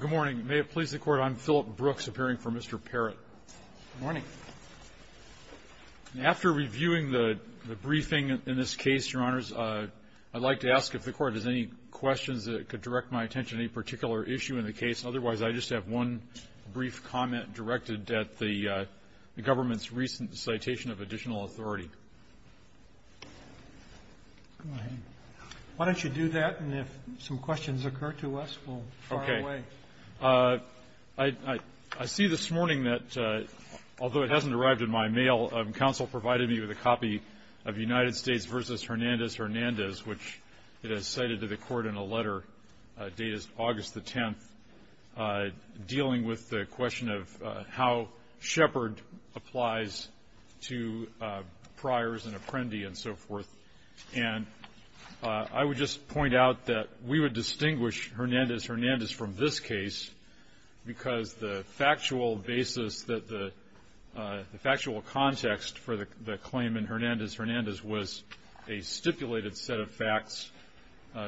Good morning. May it please the Court, I'm Philip Brooks, appearing for Mr. Parratt. Good morning. After reviewing the briefing in this case, Your Honors, I'd like to ask if the Court has any questions that could direct my attention to any particular issue in the case. Otherwise, I just have one brief comment directed at the government's recent citation of additional authority. Go ahead. Why don't you do that, and if some questions occur to us, we'll fire away. Okay. I see this morning that, although it hasn't arrived in my mail, counsel provided me with a copy of United States v. Hernandez-Hernandez, which it has cited to the Court in a letter, date is August the 10th, dealing with the question of how Shepard applies to Pryors and Apprendi and so forth. And I would just point out that we would distinguish Hernandez-Hernandez from this case because the factual basis that the factual context for the claim in Hernandez-Hernandez was a stipulated set of facts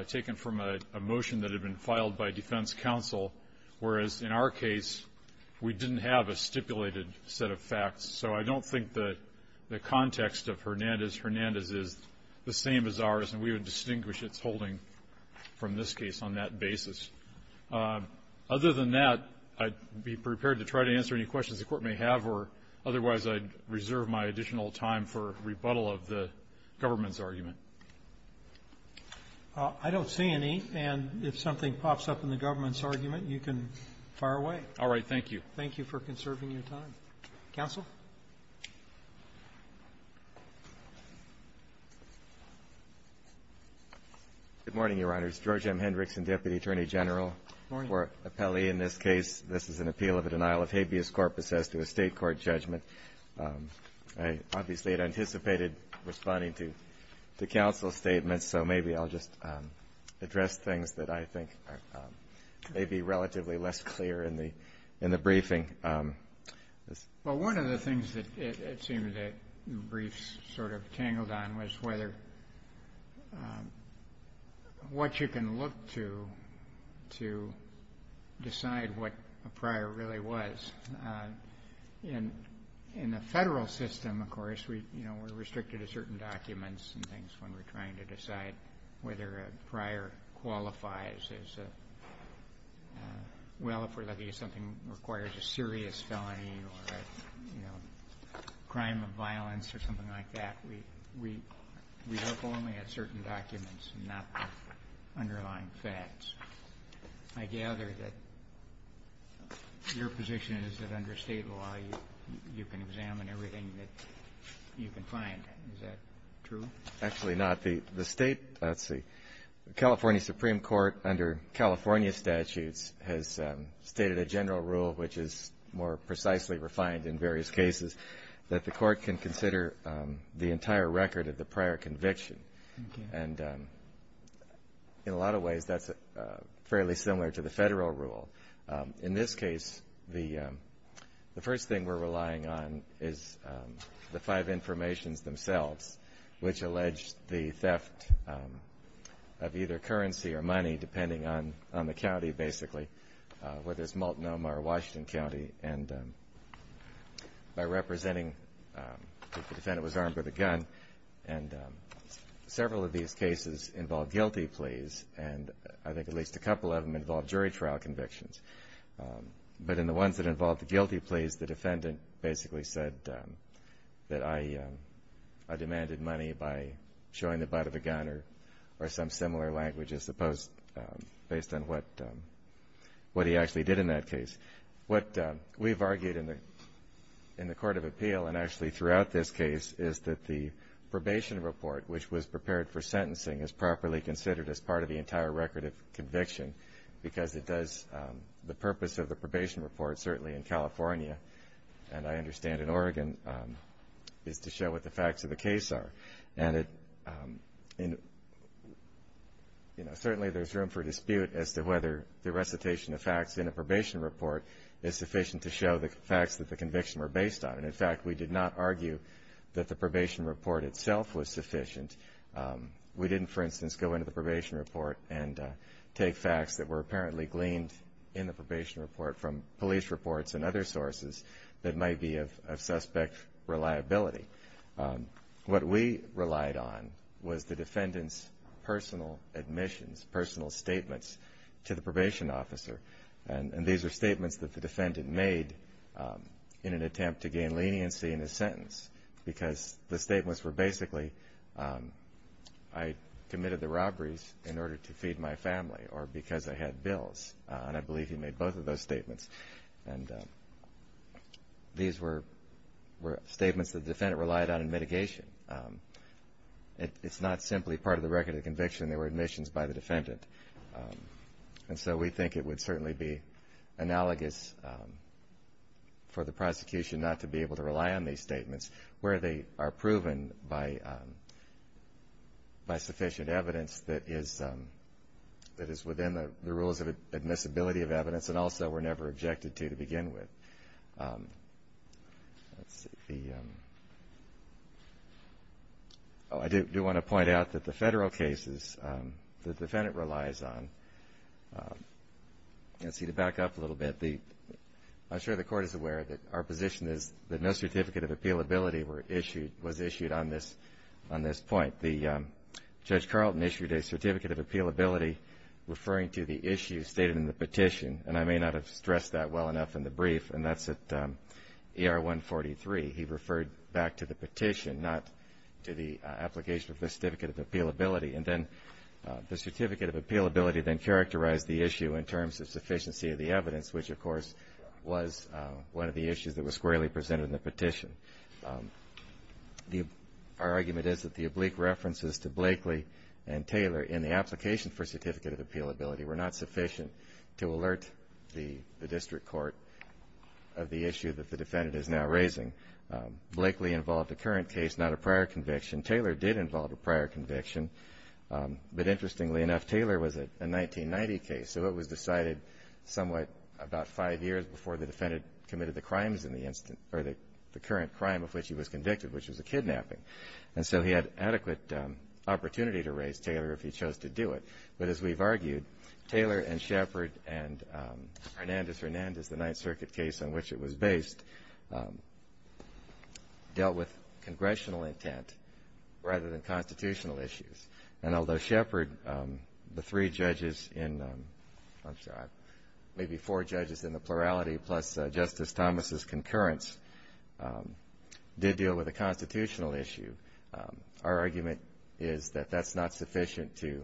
taken from a motion that had been filed by defense counsel, whereas in our case, we didn't have a stipulated set of facts. So I don't think that the context of Hernandez-Hernandez is the same as ours, and we would distinguish its holding from this case on that basis. Other than that, I'd be prepared to try to answer any questions the Court may have, or otherwise, I'd reserve my additional time for rebuttal of the government's argument. I don't see any. And if something pops up in the government's argument, you can fire away. All right. Thank you. Thank you for conserving your time. Counsel. Good morning, Your Honors. George M. Hendrickson, Deputy Attorney General. Good morning. For Appelli in this case, this is an appeal of a denial of habeas corpus as to a State Court judgment. I obviously had anticipated responding to the counsel's statements, so maybe I'll just address things that I think may be relatively less clear in the briefing. Well, one of the things that it seemed that the briefs sort of tangled on was whether a prior qualifies as a serious felony or a crime of violence or something like that. We look only at certain documents and not the underlying facts. I gather that your position is that under State law, you can examine everything that you can find. Is that true? Actually not. The State, let's see, California Supreme Court, under California statutes, has stated a general rule, which is more precisely refined in various cases, that the Court can consider the entire record of the prior conviction. And in a lot of ways, that's fairly similar to the Federal rule. In this case, the first thing we're relying on is the five informations themselves, which allege the theft of either currency or money, depending on the county, basically, whether it's Multnomah or Washington County. And by representing if the defendant was armed with a gun, and several of these cases involve guilty pleas, and I think at least a couple of them involve jury trial convictions. But in the ones that involved the guilty pleas, the defendant basically said that I demanded money by showing the butt of a gun or some similar language as opposed, based on what he actually did in that case. What we've argued in the Court of Appeal, and actually throughout this case, is that the probation report, which was prepared for sentencing, is properly considered as part of the entire record of conviction, because it does, the purpose of the probation report, certainly in California, and I understand in Oregon, is to show what the facts of the case are. And it, you know, certainly there's room for dispute as to whether the recitation of facts in a probation report is sufficient to show the facts that the conviction were based on. And in fact, we did not argue that the probation report itself was sufficient. We didn't, for instance, go into the probation report and take facts that were apparently gleaned in the probation report from police reports and other sources that might be of suspect reliability. What we relied on was the defendant's personal admissions, personal statements to the probation officer. And these are statements that the defendant made in an attempt to gain leniency in his sentence, because the statements were basically, I committed the robberies in order to feed my family, or because I had bills. And I believe he made both of those statements. And these were statements that the defendant relied on in mitigation. It's not simply part of the record of conviction, they were admissions by the defendant. And so we think it would certainly be analogous for the prosecution not to be able to rely on these statements, where they are proven by sufficient evidence that is within the rules of admissibility of evidence, and also were never objected to to begin with. I do want to point out that the federal cases, the defendant relies on, let's see, to back up a little bit, I'm sure the Court is aware that our position is that no certificate of appealability was issued on this point. Judge Carlton issued a certificate of appealability referring to the issue stated in the petition, and I may not have stressed that well enough in the brief, and that's at ER 143. He referred back to the petition, not to the application of the certificate of appealability. And then the certificate of appealability then characterized the issue in terms of sufficiency of the evidence, which, of course, was one of the issues that was squarely presented in the petition. Our argument is that the oblique references to Blakely and Taylor in the application for certificate of appealability were not sufficient to alert the district court of the issue that the defendant is now raising. Blakely involved a current case, not a prior conviction. Taylor did involve a prior conviction, but interestingly enough, Taylor was a 1990 case, so it was decided somewhat about five years before the defendant committed the current crime of which he was convicted, which was a kidnapping. And so he had adequate opportunity to raise Taylor if he chose to do it. But as we've argued, Taylor and Shepard and Hernandez-Hernandez, the Ninth Circuit case on which it was based, dealt with congressional intent rather than constitutional issues. And although Shepard, the three judges in, I'm sorry, maybe four judges in the plurality, plus Justice Thomas' concurrence, did deal with a constitutional issue, our argument is that that's not sufficient to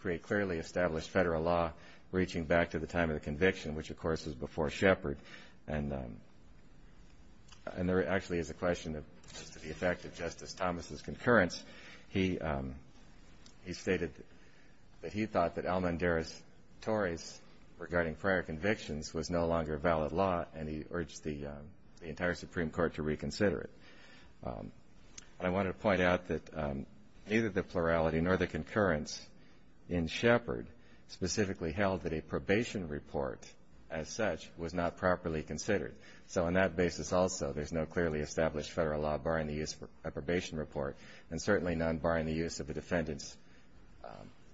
create clearly established federal law reaching back to the time of the conviction, which of course was before Shepard. And there actually is a question as to the effect of Justice Thomas' concurrence. He stated that he thought that Almanderas-Torres regarding prior convictions was no longer a valid law and he urged the entire Supreme Court to reconsider it. I wanted to point out that neither the plurality nor the concurrence in Shepard specifically held that a probation report as such was not properly considered. So on that basis also, there's no clearly established federal law barring the use of a probation report and certainly none barring the use of the defendant's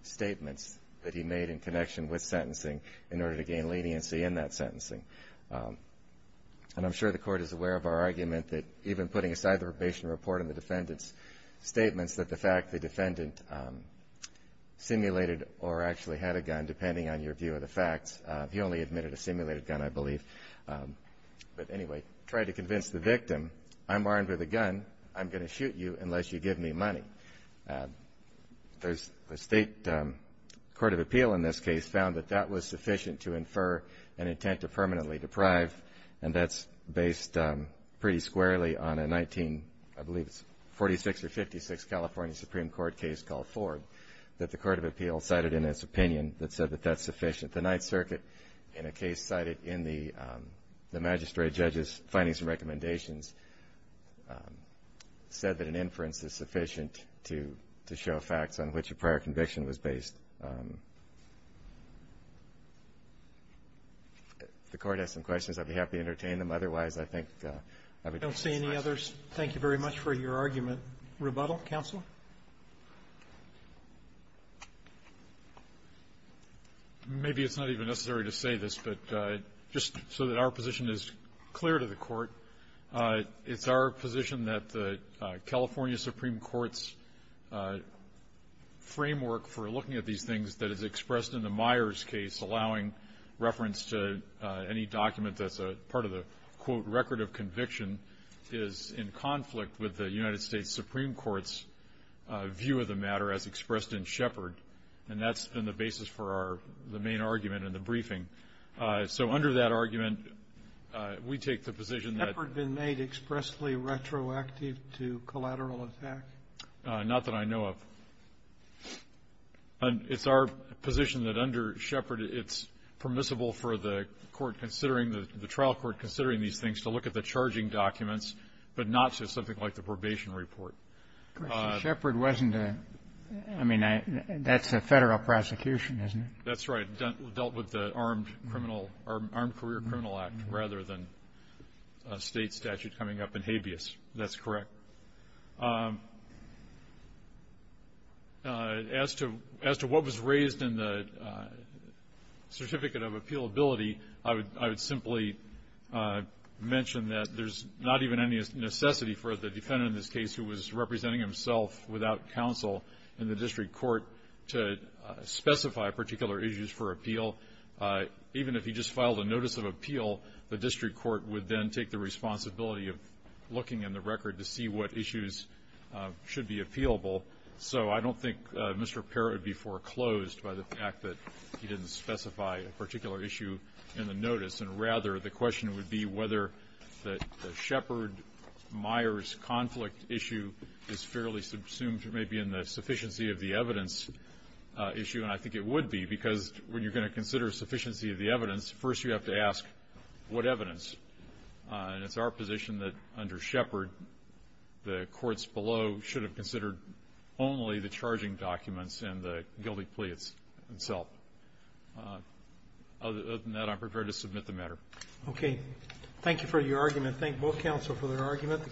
statements that he made in connection with sentencing in order to gain leniency in that sentencing. And I'm sure the Court is aware of our argument that even putting aside the probation report and the defendant's statements that the fact the defendant simulated or actually had a gun, depending on your view of the facts, he only admitted a simulated gun, I believe. But anyway, tried to convince the victim, I'm armed with a gun, I'm going to shoot you unless you give me money. The State Court of Appeal in this case found that that was sufficient to infer an intent to permanently deprive and that's based pretty squarely on a 1946 or 56 California Supreme Court case called Ford that the Court of Appeal cited in its opinion that said that that's sufficient. The Ninth Circuit in a case cited in the magistrate judge's findings and recommendations said that an inference is sufficient to show facts on which a prior conviction was based. If the Court has some questions, I'd be happy to entertain them. Otherwise, I think I would defer to the Court. Roberts. Thank you very much for your argument. Rebuttal? Counsel? Maybe it's not even necessary to say this, but just so that our position is clear to the Court, it's our position that the California Supreme Court's framework for looking at these things that is expressed in the Myers case allowing reference to any document that's part of the, quote, record of conviction is in conflict with the United States Supreme Court's position view of the matter as expressed in Shepard. And that's been the basis for our main argument in the briefing. So under that argument, we take the position that ---- Has Shepard been made expressly retroactive to collateral attack? Not that I know of. And it's our position that under Shepard, it's permissible for the Court considering the trial court considering these things to look at the charging documents, but not to something like the probation report. Shepard wasn't a ---- I mean, that's a Federal prosecution, isn't it? That's right. Dealt with the Armed Criminal ---- Armed Career Criminal Act rather than a State statute coming up in habeas. As to what was raised in the certificate of appealability, I would simply mention that there's not even any necessity for the defendant in this case who was representing himself without counsel in the district court to specify particular issues for appeal. Even if he just filed a notice of appeal, the district court would then take the responsibility of looking in the record to see what issues should be appealable. So I don't think Mr. Parrot would be foreclosed by the fact that he didn't specify a particular issue in the notice. And rather, the question would be whether the Shepard-Myers conflict issue is fairly subsumed maybe in the sufficiency of the evidence issue. And I think it would be, because when you're going to consider sufficiency of the evidence, first you have to ask what evidence. And it's our position that under Shepard, the courts below should have considered only the charging documents and the guilty plea itself. Other than that, I'm prepared to submit the matter. Okay. Thank you for your argument. Thank both counsel for their argument.